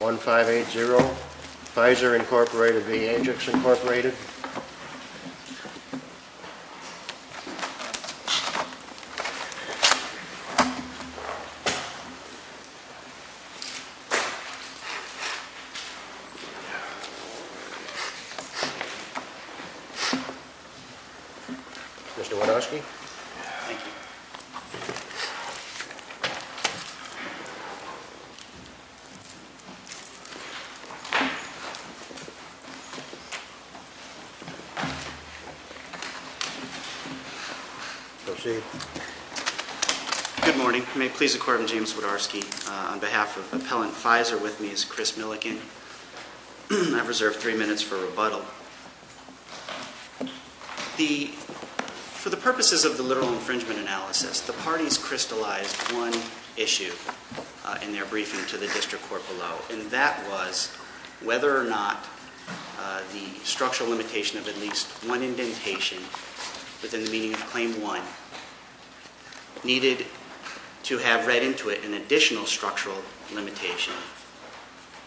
1580 Pfizer Incorporated v. Ajix Incorporated Mr. Wadowski Good morning. May it please the Court, I'm James Wadowski. On behalf of Appellant Pfizer with me is Chris Milliken. I've reserved three minutes for rebuttal. For the purposes of the literal infringement analysis, the parties crystallized one issue in their briefing to the District Court below. And that was whether or not the structural limitation of at least one indentation within the meaning of Claim 1 needed to have read into it an additional structural limitation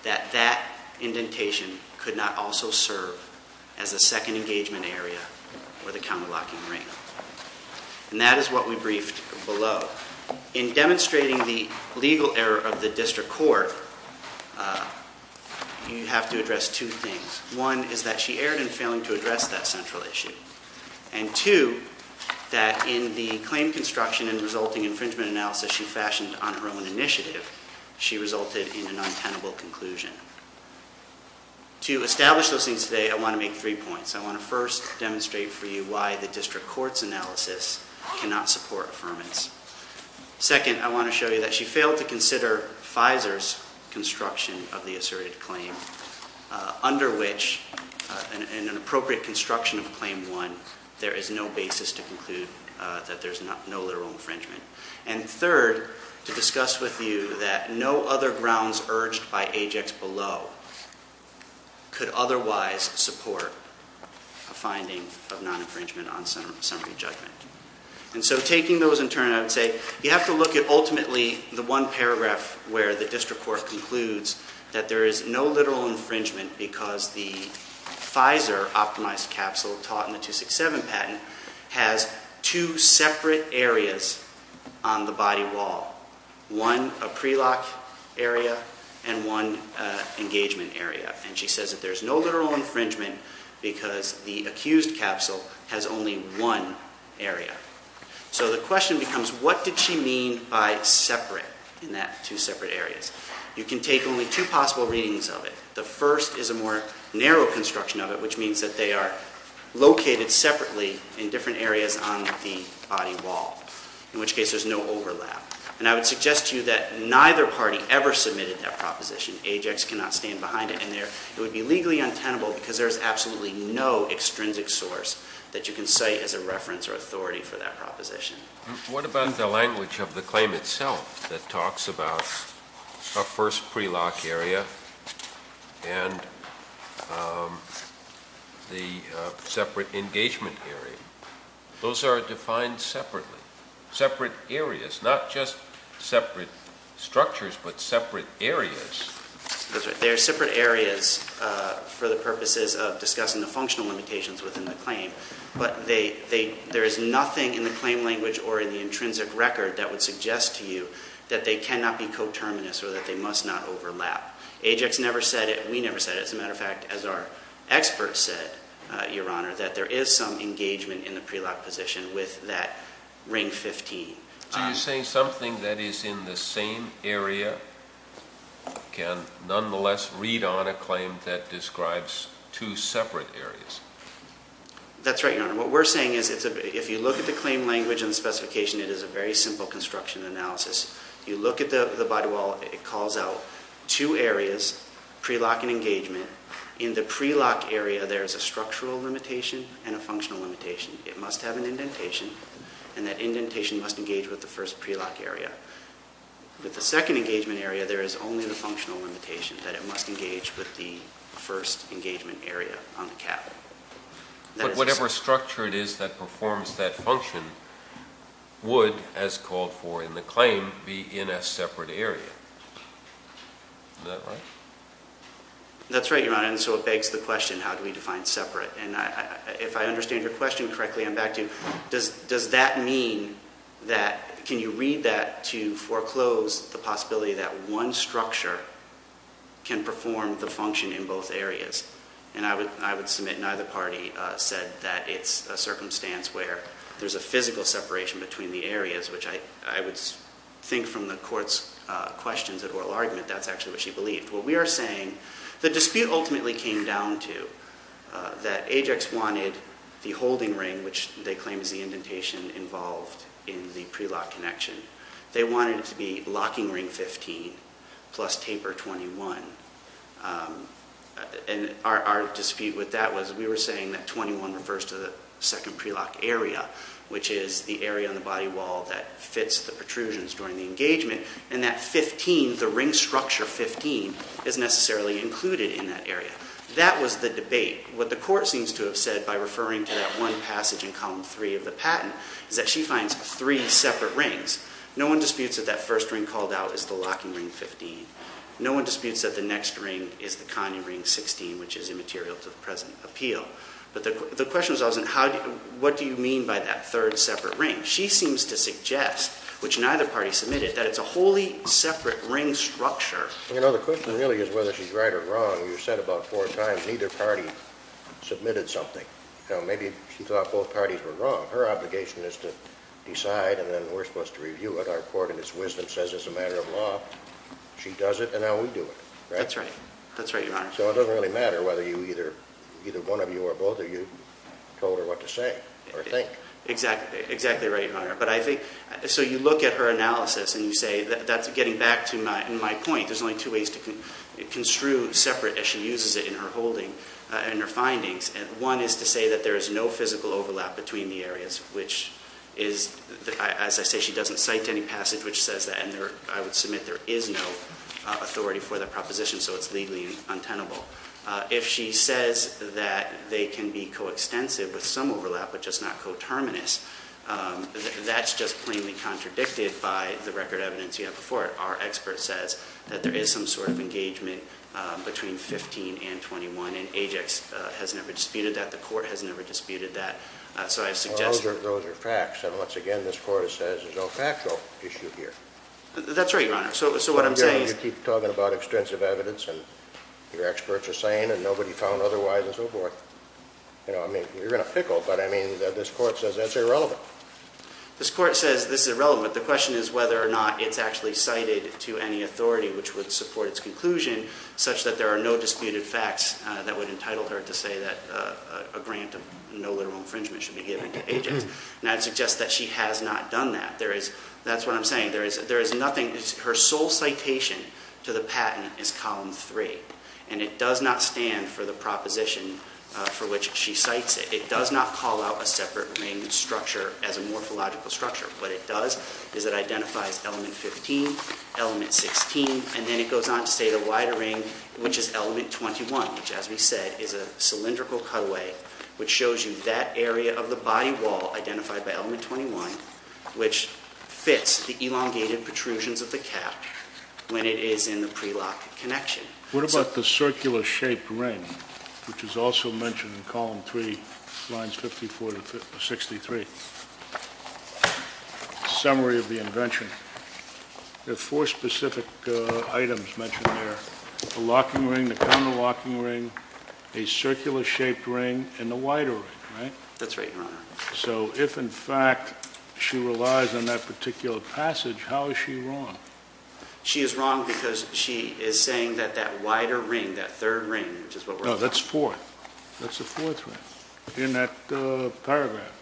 that that indentation could not also serve as a second engagement area for the counter-locking ring. And that is what we briefed below. In demonstrating the legal error of the District Court, you have to address two things. One is that she erred in failing to address that central issue. And two, that in the claim construction and resulting infringement analysis she fashioned on her own initiative, she resulted in an untenable conclusion. To establish those things today, I want to make three points. I want to first demonstrate for you why the District Court's analysis cannot support affirmance. Second, I want to show you that she failed to consider Pfizer's construction of the asserted claim, under which, in an appropriate construction of Claim 1, there is no basis to conclude that there's no literal infringement. And third, to discuss with you that no other grounds urged by Ajax below could otherwise support a finding of non-infringement on summary judgment. And so taking those in turn, I would say you have to look at ultimately the one paragraph where the District Court concludes that there is no literal infringement because the Pfizer-optimized capsule taught in the 267 patent has two separate areas on the body wall. One, a pre-lock area, and one, an engagement area. And she says that there's no literal infringement because the accused capsule has only one area. So the question becomes, what did she mean by separate in that two separate areas? You can take only two possible readings of it. The first is a more narrow construction of it, which means that they are located separately in different areas on the body wall, in which case there's no overlap. And I would suggest to you that neither party ever submitted that proposition. Ajax cannot stand behind it. And it would be legally untenable because there's absolutely no extrinsic source that you can cite as a reference or authority for that proposition. What about the language of the claim itself that talks about a first pre-lock area and the separate engagement area? Those are defined separately, separate areas, not just separate structures, but separate areas. That's right. They are separate areas for the purposes of discussing the functional limitations within the claim. But there is nothing in the claim language or in the intrinsic record that would suggest to you that they cannot be coterminous or that they must not overlap. Ajax never said it. We never said it. As a matter of fact, as our experts said, Your Honor, that there is some engagement in the pre-lock position with that ring 15. So you're saying something that is in the same area can nonetheless read on a claim that describes two separate areas? That's right, Your Honor. What we're saying is if you look at the claim language and the specification, it is a very simple construction analysis. You look at the body wall. It calls out two areas, pre-lock and engagement. In the pre-lock area, there is a structural limitation and a functional limitation. It must have an indentation, and that indentation must engage with the first pre-lock area. With the second engagement area, there is only the functional limitation that it must engage with the first engagement area on the cap. But whatever structure it is that performs that function would, as called for in the claim, be in a separate area. Is that right? That's right, Your Honor. And so it begs the question, how do we define separate? And if I understand your question correctly, I'm back to you. Does that mean that can you read that to foreclose the possibility that one structure can perform the function in both areas? And I would submit neither party said that it's a circumstance where there's a physical separation between the areas, which I would think from the Court's questions at oral argument, that's actually what she believed. What we are saying, the dispute ultimately came down to that Ajax wanted the holding ring, which they claim is the indentation involved in the pre-lock connection. They wanted it to be locking ring 15 plus taper 21. And our dispute with that was we were saying that 21 refers to the second pre-lock area, which is the area on the body wall that fits the protrusions during the engagement, and that 15, the ring structure 15, is necessarily included in that area. That was the debate. What the Court seems to have said by referring to that one passage in column 3 of the patent is that she finds three separate rings. No one disputes that that first ring called out is the locking ring 15. No one disputes that the next ring is the Connie ring 16, which is immaterial to the present appeal. But the question was always, what do you mean by that third separate ring? She seems to suggest, which neither party submitted, that it's a wholly separate ring structure. The question really is whether she's right or wrong. You said about four times neither party submitted something. Maybe she thought both parties were wrong. Her obligation is to decide, and then we're supposed to review it. Our Court, in its wisdom, says it's a matter of law. She does it, and now we do it. That's right. That's right, Your Honor. So it doesn't really matter whether either one of you or both of you told her what to say or think. Exactly right, Your Honor. So you look at her analysis, and you say that's getting back to my point. There's only two ways to construe separate as she uses it in her holding and her findings. One is to say that there is no physical overlap between the areas, which is, as I say, she doesn't cite any passage which says that, and I would submit there is no authority for that proposition, so it's legally untenable. If she says that they can be coextensive with some overlap but just not coterminous, that's just plainly contradicted by the record evidence you have before it. Our expert says that there is some sort of engagement between 15 and 21, and Ajax has never disputed that. The Court has never disputed that. So I suggest that. Well, those are facts. And once again, this Court says there's no factual issue here. That's right, Your Honor. So what I'm saying is you keep talking about extensive evidence, and your experts are saying, and nobody found otherwise, and so forth. I mean, you're going to pickle, but I mean, this Court says that's irrelevant. This Court says this is irrelevant. The question is whether or not it's actually cited to any authority which would support its conclusion such that there are no disputed facts that would entitle her to say that a grant of no literal infringement should be given to Ajax. And I'd suggest that she has not done that. That's what I'm saying. There is nothing. Her sole citation to the patent is Column 3, and it does not stand for the proposition for which she cites it. It does not call out a separate ring structure as a morphological structure. What it does is it identifies element 15, element 16, and then it goes on to say the wider ring, which is element 21, which, as we said, is a cylindrical cutaway, which shows you that area of the body wall identified by element 21, which fits the elongated protrusions of the cap when it is in the prelock connection. What about the circular-shaped ring, which is also mentioned in Column 3, lines 54 to 63? Summary of the invention. There are four specific items mentioned there. The locking ring, the counterlocking ring, a circular-shaped ring, and the wider ring, right? That's right, Your Honor. So if, in fact, she relies on that particular passage, how is she wrong? She is wrong because she is saying that that wider ring, that third ring, which is what we're talking about. No, that's fourth. That's the fourth ring in that paragraph.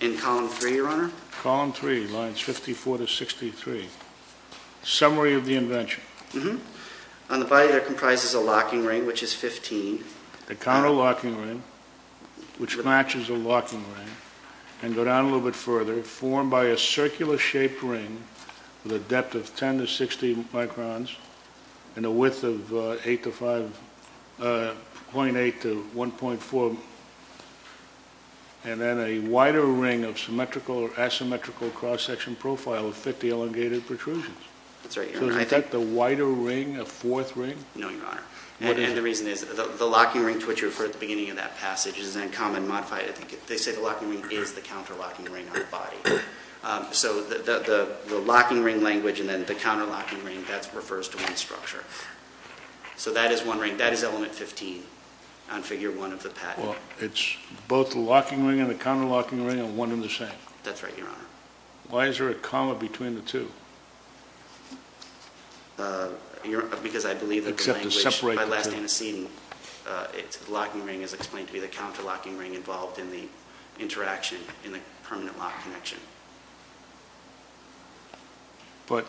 In Column 3, Your Honor? Column 3, lines 54 to 63. Summary of the invention. On the body, there comprises a locking ring, which is 15. A counterlocking ring, which matches a locking ring, and go down a little bit further, formed by a circular-shaped ring with a depth of 10 to 60 microns and a width of 0.8 to 1.4, and then a wider ring of symmetrical or asymmetrical cross-section profile with 50 elongated protrusions. That's right, Your Honor. So is that the wider ring, a fourth ring? No, Your Honor. And the reason is, the locking ring to which you referred at the beginning of that passage is then comma-modified. They say the locking ring is the counterlocking ring on the body. So the locking ring language and then the counterlocking ring, that refers to one structure. So that is one ring. That is element 15 on Figure 1 of the patent. Well, it's both the locking ring and the counterlocking ring are one and the same. That's right, Your Honor. Why is there a comma between the two? Because I believe that the language by last antecedent, the locking ring is explained to be the counterlocking ring involved in the interaction in the permanent lock connection. But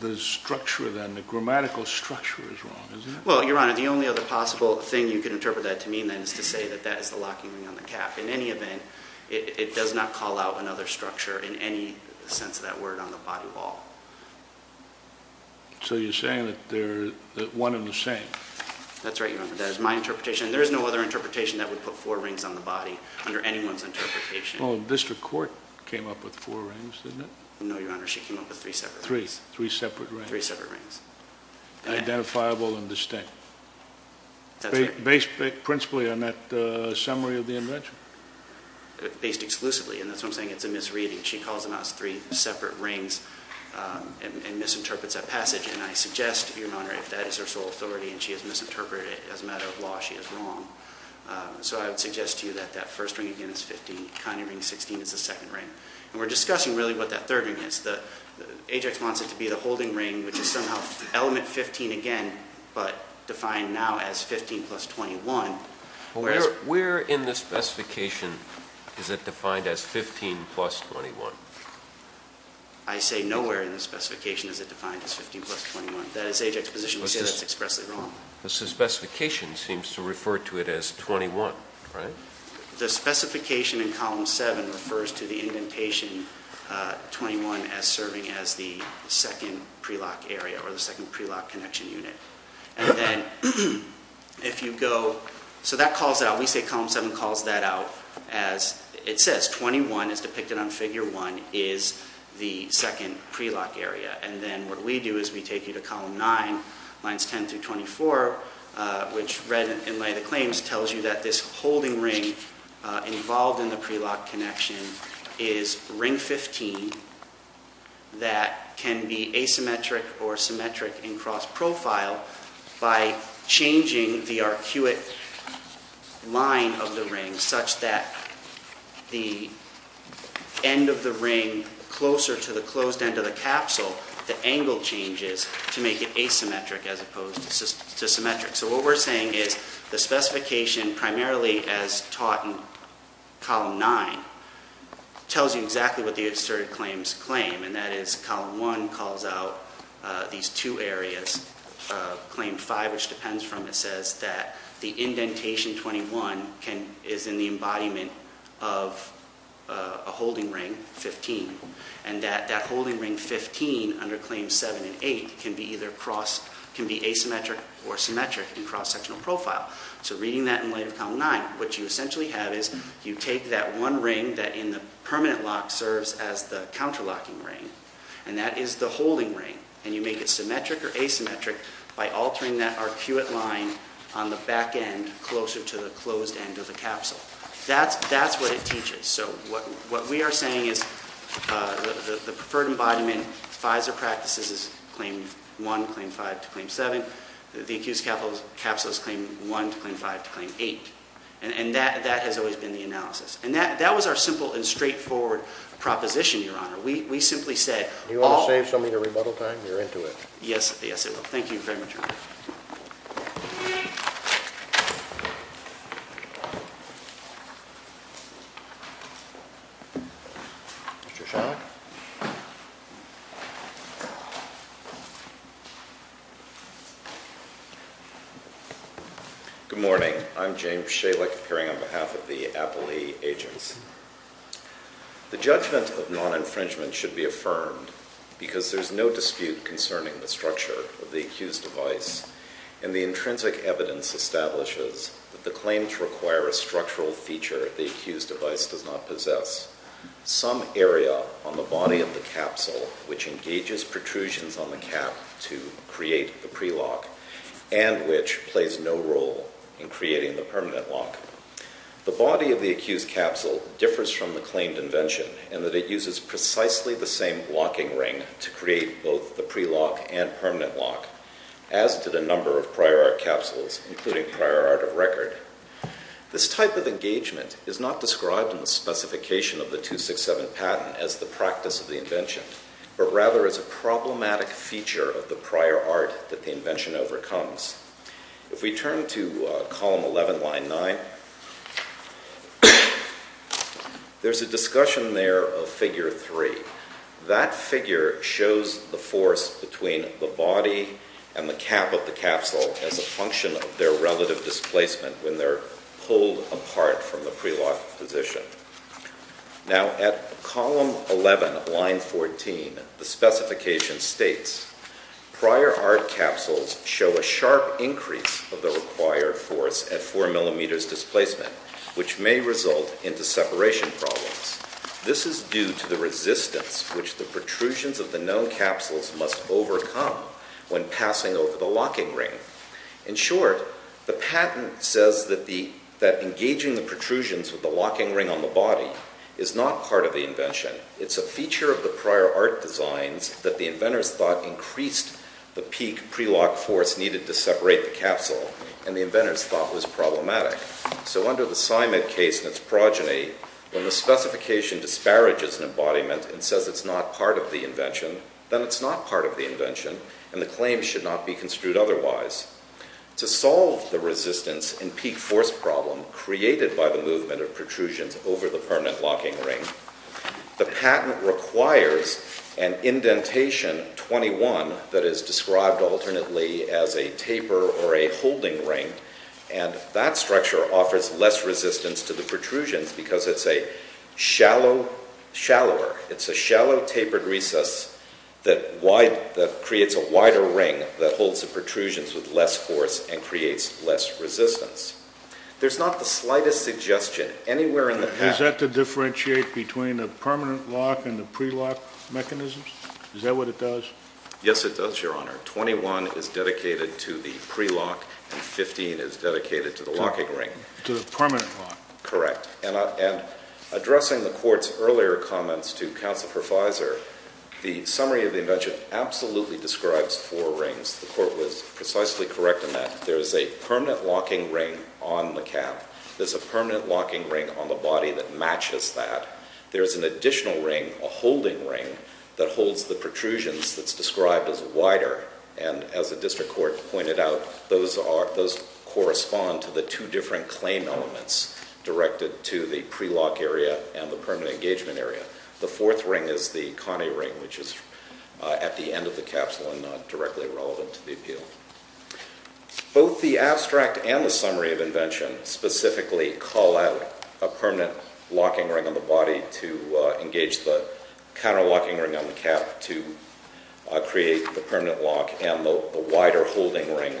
the structure then, the grammatical structure is wrong, is it? Well, Your Honor, the only other possible thing you can interpret that to mean then is to say that that is the locking ring on the cap. In any event, it does not call out another structure in any sense of that word on the body at all. So you're saying that they're one and the same. That's right, Your Honor. That is my interpretation. There is no other interpretation that would put four rings on the body under anyone's interpretation. Well, the district court came up with four rings, didn't it? No, Your Honor. She came up with three separate rings. Three separate rings. Three separate rings. Identifiable and distinct. That's right. Based principally on that summary of the invention. Based exclusively, and that's why I'm saying it's a misreading. She calls them out as three separate rings and misinterprets that passage. And I suggest, Your Honor, if that is her sole authority and she has misinterpreted it as a matter of law, she is wrong. So I would suggest to you that that first ring again is 15. Conning ring 16 is the second ring. And we're discussing really what that third ring is. Ajax wants it to be the holding ring, which is somehow element 15 again, but defined now as 15 plus 21. Where in the specification is it defined as 15 plus 21? I say nowhere in the specification is it defined as 15 plus 21. That is Ajax's position. We say that's expressly wrong. The specification seems to refer to it as 21, right? The specification in column 7 refers to the indentation 21 as serving as the second prelock area or the second prelock connection unit. And then if you go, so that calls out. We say column 7 calls that out as it says. 21 is depicted on figure 1 is the second prelock area. And then what we do is we take you to column 9, lines 10 through 24, which read in lay of the claims tells you that this holding ring involved in the prelock connection is ring 15 that can be asymmetric or symmetric in cross profile by changing the arcuate line of the ring such that the end of the ring closer to the closed end of the capsule, the angle changes to make it asymmetric as opposed to symmetric. So what we're saying is the specification primarily as taught in column 9 tells you exactly what the asserted claims claim, and that is column 1 calls out these two areas. Claim 5, which depends from it, says that the indentation 21 is in the embodiment of a holding ring 15 and that that holding ring 15 under claims 7 and 8 can be either cross, can be asymmetric or symmetric in cross sectional profile. So reading that in light of column 9, what you essentially have is you take that one ring that in the permanent lock serves as the counter locking ring, and that is the holding ring, and you make it symmetric or asymmetric by altering that arcuate line on the back end closer to the closed end of the capsule. That's what it teaches. So what we are saying is the preferred embodiment in FISA practices is claim 1, claim 5 to claim 7. The accused capsule is claim 1 to claim 5 to claim 8. And that has always been the analysis. And that was our simple and straightforward proposition, Your Honor. We simply said all— Do you want to save somebody the rebuttal time? You're into it. Yes, yes, I will. Thank you very much, Your Honor. Mr. Shalik. Good morning. I'm James Shalik, appearing on behalf of the Appley Agents. The judgment of non-infringement should be affirmed because there's no dispute concerning the structure of the accused device, and the intrinsic evidence establishes that the claims require a structural feature the accused device does not possess, some area on the body of the capsule which engages protrusions on the cap to create the prelock, and which plays no role in creating the permanent lock. The body of the accused capsule differs from the claimed invention in that it uses precisely the same locking ring to create both the prelock and permanent lock. As did a number of prior art capsules, including prior art of record. This type of engagement is not described in the specification of the 267 patent as the practice of the invention, but rather as a problematic feature of the prior art that the invention overcomes. If we turn to column 11, line 9, there's a discussion there of figure 3. That figure shows the force between the body and the cap of the capsule as a function of their relative displacement when they're pulled apart from the prelocked position. Now, at column 11, line 14, the specification states, prior art capsules show a sharp increase of the required force at 4 millimeters displacement, which may result into separation problems. This is due to the resistance which the protrusions of the known capsules must overcome when passing over the locking ring. In short, the patent says that engaging the protrusions with the locking ring on the body is not part of the invention. It's a feature of the prior art designs that the inventors thought increased the peak prelock force needed to separate the capsule, and the inventors thought was problematic. So under the Simon case and its progeny, when the specification disparages an embodiment and says it's not part of the invention, then it's not part of the invention, and the claim should not be construed otherwise. To solve the resistance and peak force problem created by the movement of protrusions over the permanent locking ring, the patent requires an indentation 21 that is described alternately as a taper or a holding ring, and that structure offers less resistance to the protrusions because it's a shallow, shallower, it's a shallow tapered recess that creates a wider ring that holds the protrusions with less force and creates less resistance. There's not the slightest suggestion anywhere in the patent... Is that to differentiate between the permanent lock and the prelock mechanisms? Is that what it does? Yes, it does, Your Honor. 21 is dedicated to the prelock and 15 is dedicated to the locking ring. To the permanent lock. Correct. And addressing the Court's earlier comments to Counselor Profizer, the summary of the invention absolutely describes four rings. The Court was precisely correct in that. There's a permanent locking ring on the cap. There's a permanent locking ring on the body that matches that. There's an additional ring, a holding ring, that holds the protrusions that's described as wider, and as the District Court pointed out, those correspond to the two different claim elements directed to the prelock area and the permanent engagement area. The fourth ring is the Connie ring, which is at the end of the capsule and not directly relevant to the appeal. Both the abstract and the summary of invention specifically call out a permanent locking ring on the body to engage the counter-locking ring on the cap to create the permanent lock and the wider holding ring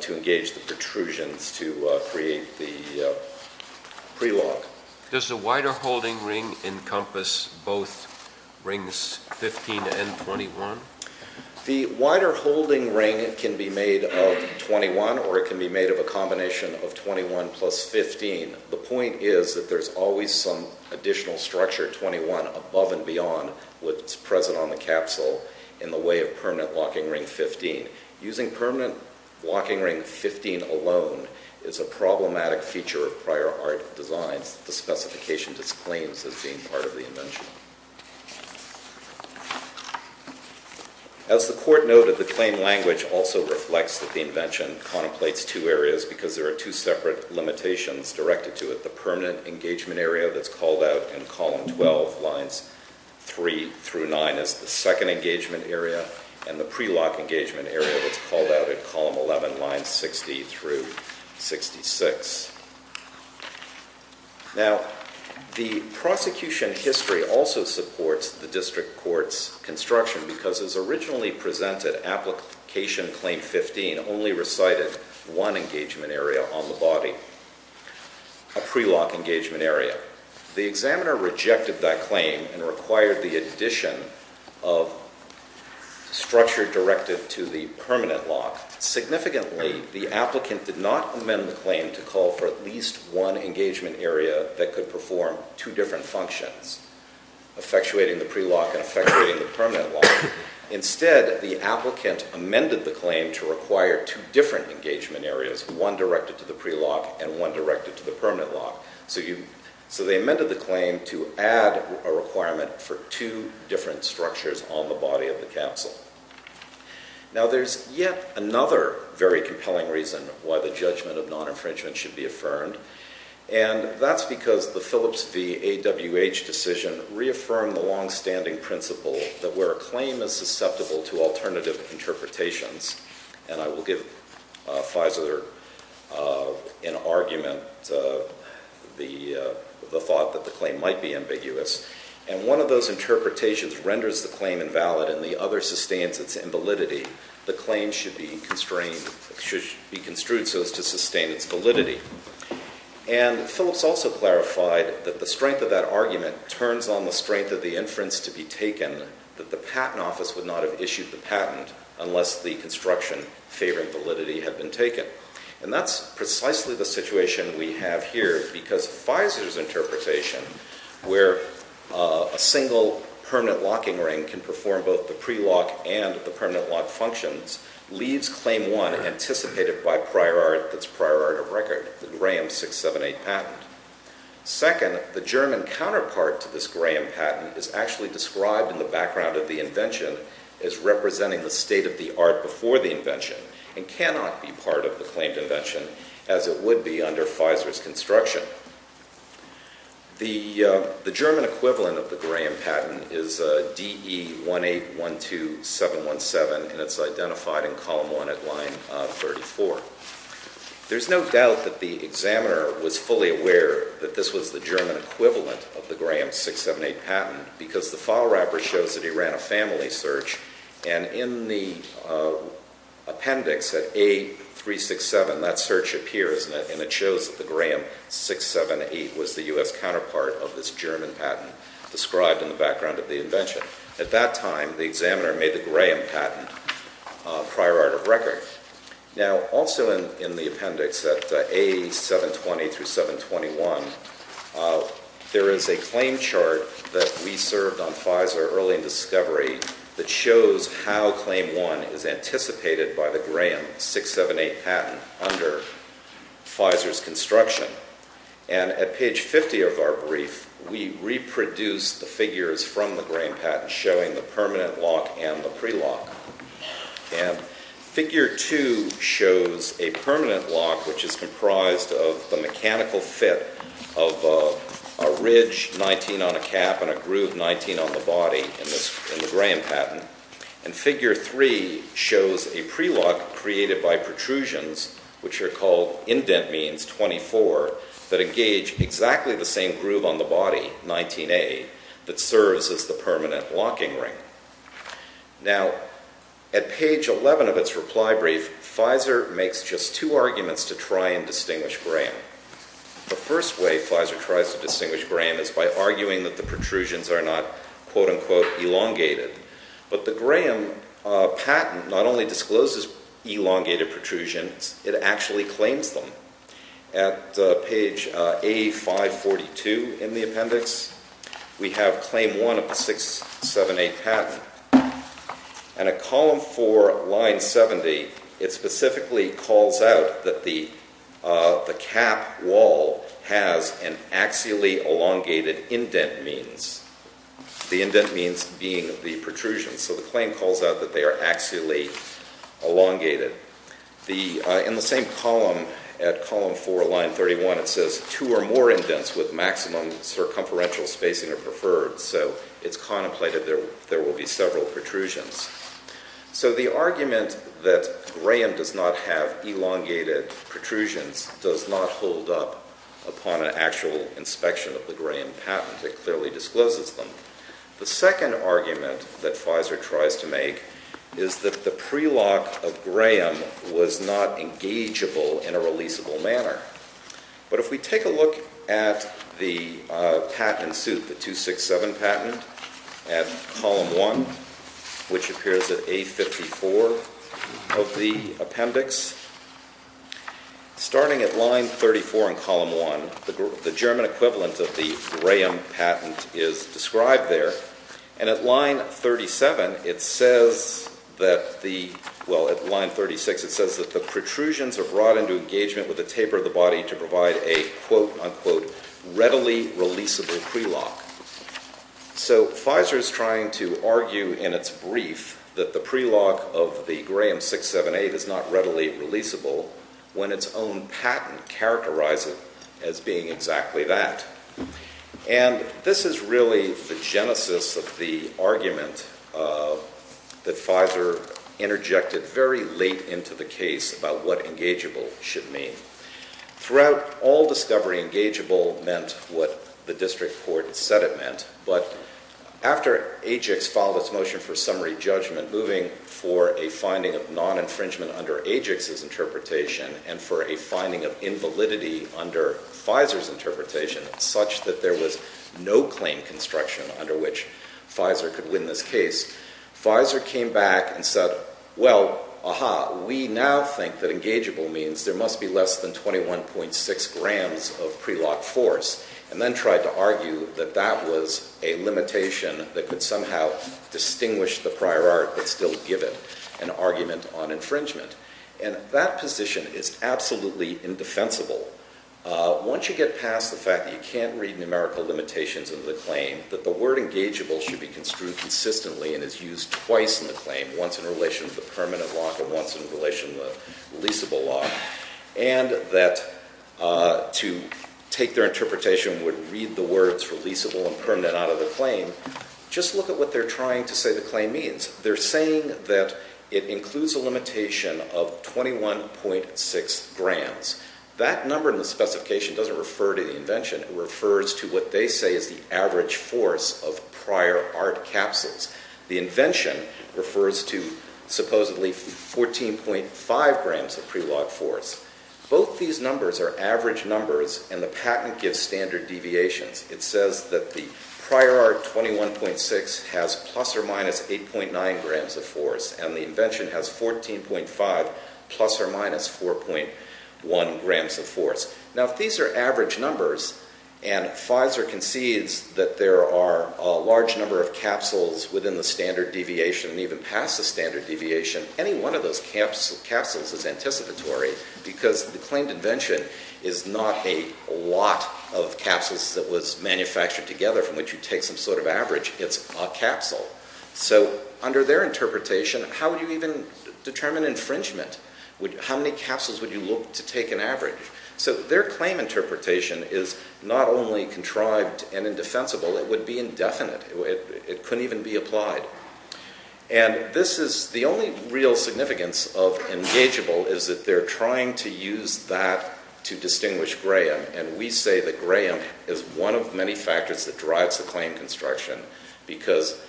to engage the protrusions to create the prelock. Does the wider holding ring encompass both rings 15 and 21? The wider holding ring can be made of 21 or it can be made of a combination of 21 plus 15. The point is that there's always some additional structure, 21, above and beyond what's present on the capsule in the way of permanent locking ring 15. Using permanent locking ring 15 alone is a problematic feature of prior art designs that the specification disclaims as being part of the invention. As the Court noted, the claim language also reflects that the invention contemplates two areas because there are two separate limitations directed to it. The permanent engagement area that's called out in column 12, lines 3 through 9, is the second engagement area, and the prelock engagement area that's called out in column 11, lines 60 through 66. Now, the prosecution history also supports the district court's construction because as originally presented, application claim 15 only recited one engagement area on the body, a prelock engagement area. The examiner rejected that claim and required the addition of structure directed to the permanent lock. Significantly, the applicant did not amend the claim to call for at least one engagement area that could perform two different functions, effectuating the prelock and effectuating the permanent lock. Instead, the applicant amended the claim to require two different engagement areas, one directed to the prelock and one directed to the permanent lock. So they amended the claim to add a requirement for two different structures on the body of the capsule. Now, there's yet another very compelling reason why the judgment of non-infringement should be affirmed, and that's because the Phillips v. AWH decision reaffirmed the longstanding principle that where a claim is susceptible to alternative interpretations, and I will give Fisler an argument, the thought that the claim might be ambiguous, and one of those interpretations renders the claim invalid and the other sustains its invalidity, the claim should be construed so as to sustain its validity. And Phillips also clarified that the strength of that argument turns on the strength of the inference to be taken, that the patent office would not have issued the patent unless the construction favoring validity had been taken. And that's precisely the situation we have here, because Fisler's interpretation where a single permanent locking ring can perform both the prelock and the permanent lock functions leaves claim one anticipated by prior art that's prior art of record, the Graham 678 patent. Second, the German counterpart to this Graham patent is actually described in the background of the invention as representing the state of the art before the invention and cannot be part of the claimed invention as it would be under Fisler's construction. The German equivalent of the Graham patent is DE 1812717, and it's identified in column one at line 34. There's no doubt that the examiner was fully aware that this was the German equivalent of the Graham 678 patent because the file wrapper shows that he ran a family search, and in the appendix at A367, that search appears, and it shows that the Graham 678 was the U.S. counterpart of this German patent described in the background of the invention. At that time, the examiner made the Graham patent prior art of record. Now, also in the appendix at A720-721, there is a claim chart that we served on Fisler early in discovery that shows how claim one is anticipated by the Graham 678 patent under Fisler's construction, and at page 50 of our brief, we reproduced the figures from the Graham patent showing the permanent lock and the prelock, and figure two shows a permanent lock which is comprised of the mechanical fit of a ridge 19 on a cap and a groove 19 on the body in the Graham patent, and figure three shows a prelock created by protrusions, which are called indent means 24, that engage exactly the same groove on the body, 19A, that serves as the permanent locking ring. Now, at page 11 of its reply brief, Fisler makes just two arguments to try and distinguish Graham. The first way Fisler tries to distinguish Graham is by arguing that the protrusions are not quote-unquote elongated, but the Graham patent not only discloses elongated protrusions, it actually claims them. At page A542 in the appendix, we have claim one of the 678 patent, and at column four, line 70, it specifically calls out that the cap wall has an axially elongated indent means, the indent means being the protrusions, so the claim calls out that they are axially elongated. In the same column, at column four, line 31, it says two or more indents with maximum circumferential spacing are preferred, so it's contemplated there will be several protrusions. So the argument that Graham does not have elongated protrusions does not hold up upon an actual inspection of the Graham patent. It clearly discloses them. The second argument that Fisler tries to make is that the prelock of Graham was not engageable in a releasable manner. But if we take a look at the patent suit, the 267 patent, at column one, which appears at A54 of the appendix, starting at line 34 in column one, the German equivalent of the Graham patent is described there, and at line 37, it says that the, well, at line 36, it says that the protrusions are brought into engagement with the taper of the body to provide a, quote, unquote, readily releasable prelock. So Fisler is trying to argue in its brief that the prelock of the Graham 678 is not readily releasable when its own patent characterized it as being exactly that. And this is really the genesis of the argument that Fisler interjected very late into the case about what engageable should mean. Throughout all discovery, engageable meant what the district court said it meant. But after Ajix filed its motion for summary judgment, moving for a finding of non-infringement under Ajix's interpretation and for a finding of invalidity under Fisler's interpretation, such that there was no claim construction under which Fisler could win this case, Fisler came back and said, well, aha, we now think that engageable means there must be less than 21.6 grams of prelock force, and then tried to argue that that was a limitation that could somehow distinguish the prior art but still give it an argument on infringement. And that position is absolutely indefensible. Once you get past the fact that you can't read numerical limitations into the claim, that the word engageable should be construed consistently and is used twice in the claim, once in relation to the permanent lock and once in relation to the leasable lock, and that to take their interpretation would read the words for leasable and permanent out of the claim, just look at what they're trying to say the claim means. They're saying that it includes a limitation of 21.6 grams. That number in the specification doesn't refer to the invention. It refers to what they say is the average force of prior art capsules. The invention refers to supposedly 14.5 grams of prelock force. Both these numbers are average numbers, and the patent gives standard deviations. It says that the prior art 21.6 has plus or minus 8.9 grams of force, and the invention has 14.5 plus or minus 4.1 grams of force. Now, if these are average numbers and Pfizer concedes that there are a large number of capsules within the standard deviation and even past the standard deviation, any one of those capsules is anticipatory because the claimed invention is not a lot of capsules that was manufactured together from which you take some sort of average. It's a capsule. So under their interpretation, how would you even determine infringement? How many capsules would you look to take an average? So their claim interpretation is not only contrived and indefensible. It would be indefinite. It couldn't even be applied. And this is the only real significance of engageable is that they're trying to use that to distinguish Graham, and we say that Graham is one of many factors that drives the claim construction because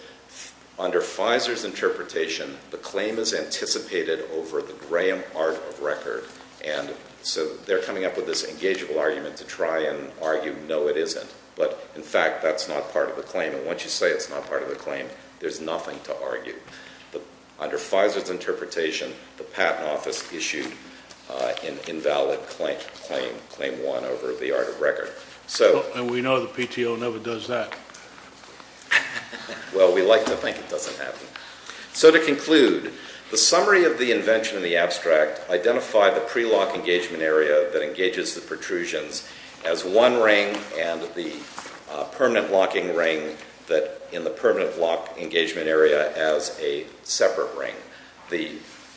under Pfizer's interpretation, the claim is anticipated over the Graham art of record, and so they're coming up with this engageable argument to try and argue, no, it isn't. But, in fact, that's not part of the claim, and once you say it's not part of the claim, there's nothing to argue. Under Pfizer's interpretation, the patent office issued an invalid claim, claim one over the art of record. And we know the PTO never does that. Well, we like to think it doesn't happen. So to conclude, the summary of the invention in the abstract identified the pre-lock engagement area that engages the protrusions as one ring and the permanent locking ring that in the permanent lock engagement area as a separate ring. The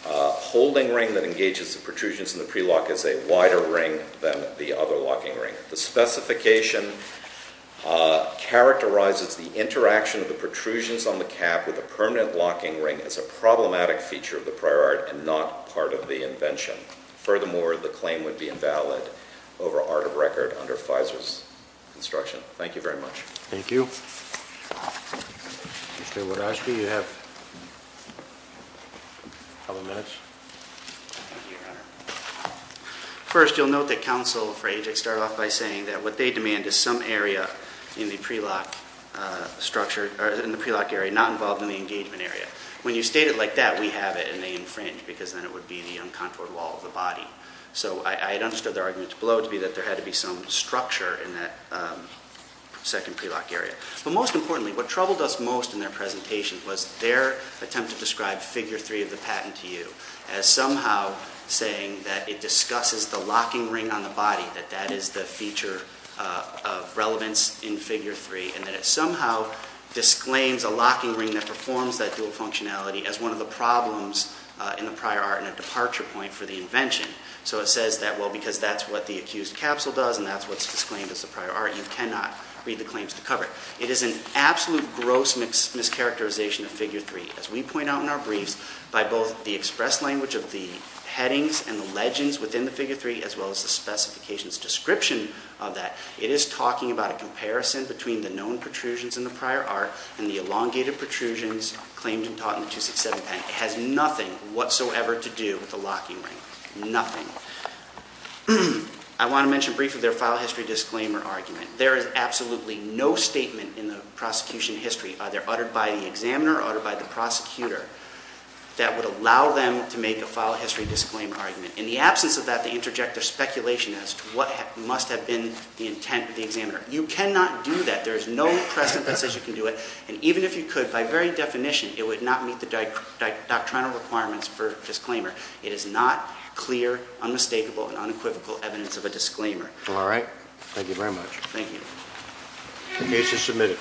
holding ring that engages the protrusions in the pre-lock is a wider ring than the other locking ring. The specification characterizes the interaction of the protrusions on the cap with the permanent locking ring as a problematic feature of the prior art and not part of the invention. Furthermore, the claim would be invalid over art of record under Pfizer's construction. Thank you very much. Thank you. Mr. Wodawski, you have a couple minutes. Thank you, Your Honor. First, you'll note that counsel for Ajax started off by saying that what they demand is some area in the pre-lock structure, in the pre-lock area, not involved in the engagement area. When you state it like that, we have it, and they infringe because then it would be the uncontoured wall of the body. So I understood their argument below to be that there had to be some structure in that second pre-lock area. But most importantly, what troubled us most in their presentation was their attempt to describe figure three of the patent to you as somehow saying that it discusses the locking ring on the body, that that is the feature of relevance in figure three, and that it somehow disclaims a locking ring that performs that dual functionality as one of the problems in the prior art and a departure point for the invention. So it says that, well, because that's what the accused capsule does and that's what's disclaimed as the prior art, you cannot read the claims to cover it. It is an absolute gross mischaracterization of figure three. As we point out in our briefs, by both the express language of the headings and the legends within the figure three, as well as the specifications description of that, it is talking about a comparison between the known protrusions in the prior art and the elongated protrusions claimed and taught in the 267 patent. That has nothing whatsoever to do with the locking ring. Nothing. I want to mention briefly their file history disclaimer argument. There is absolutely no statement in the prosecution history, either uttered by the examiner or uttered by the prosecutor, that would allow them to make a file history disclaimer argument. In the absence of that, they interject their speculation as to what must have been the intent of the examiner. You cannot do that. There is no precedent that says you can do it. And even if you could, by very definition, it would not meet the doctrinal requirements for disclaimer. It is not clear, unmistakable, and unequivocal evidence of a disclaimer. All right. Thank you very much. Thank you. The case is submitted.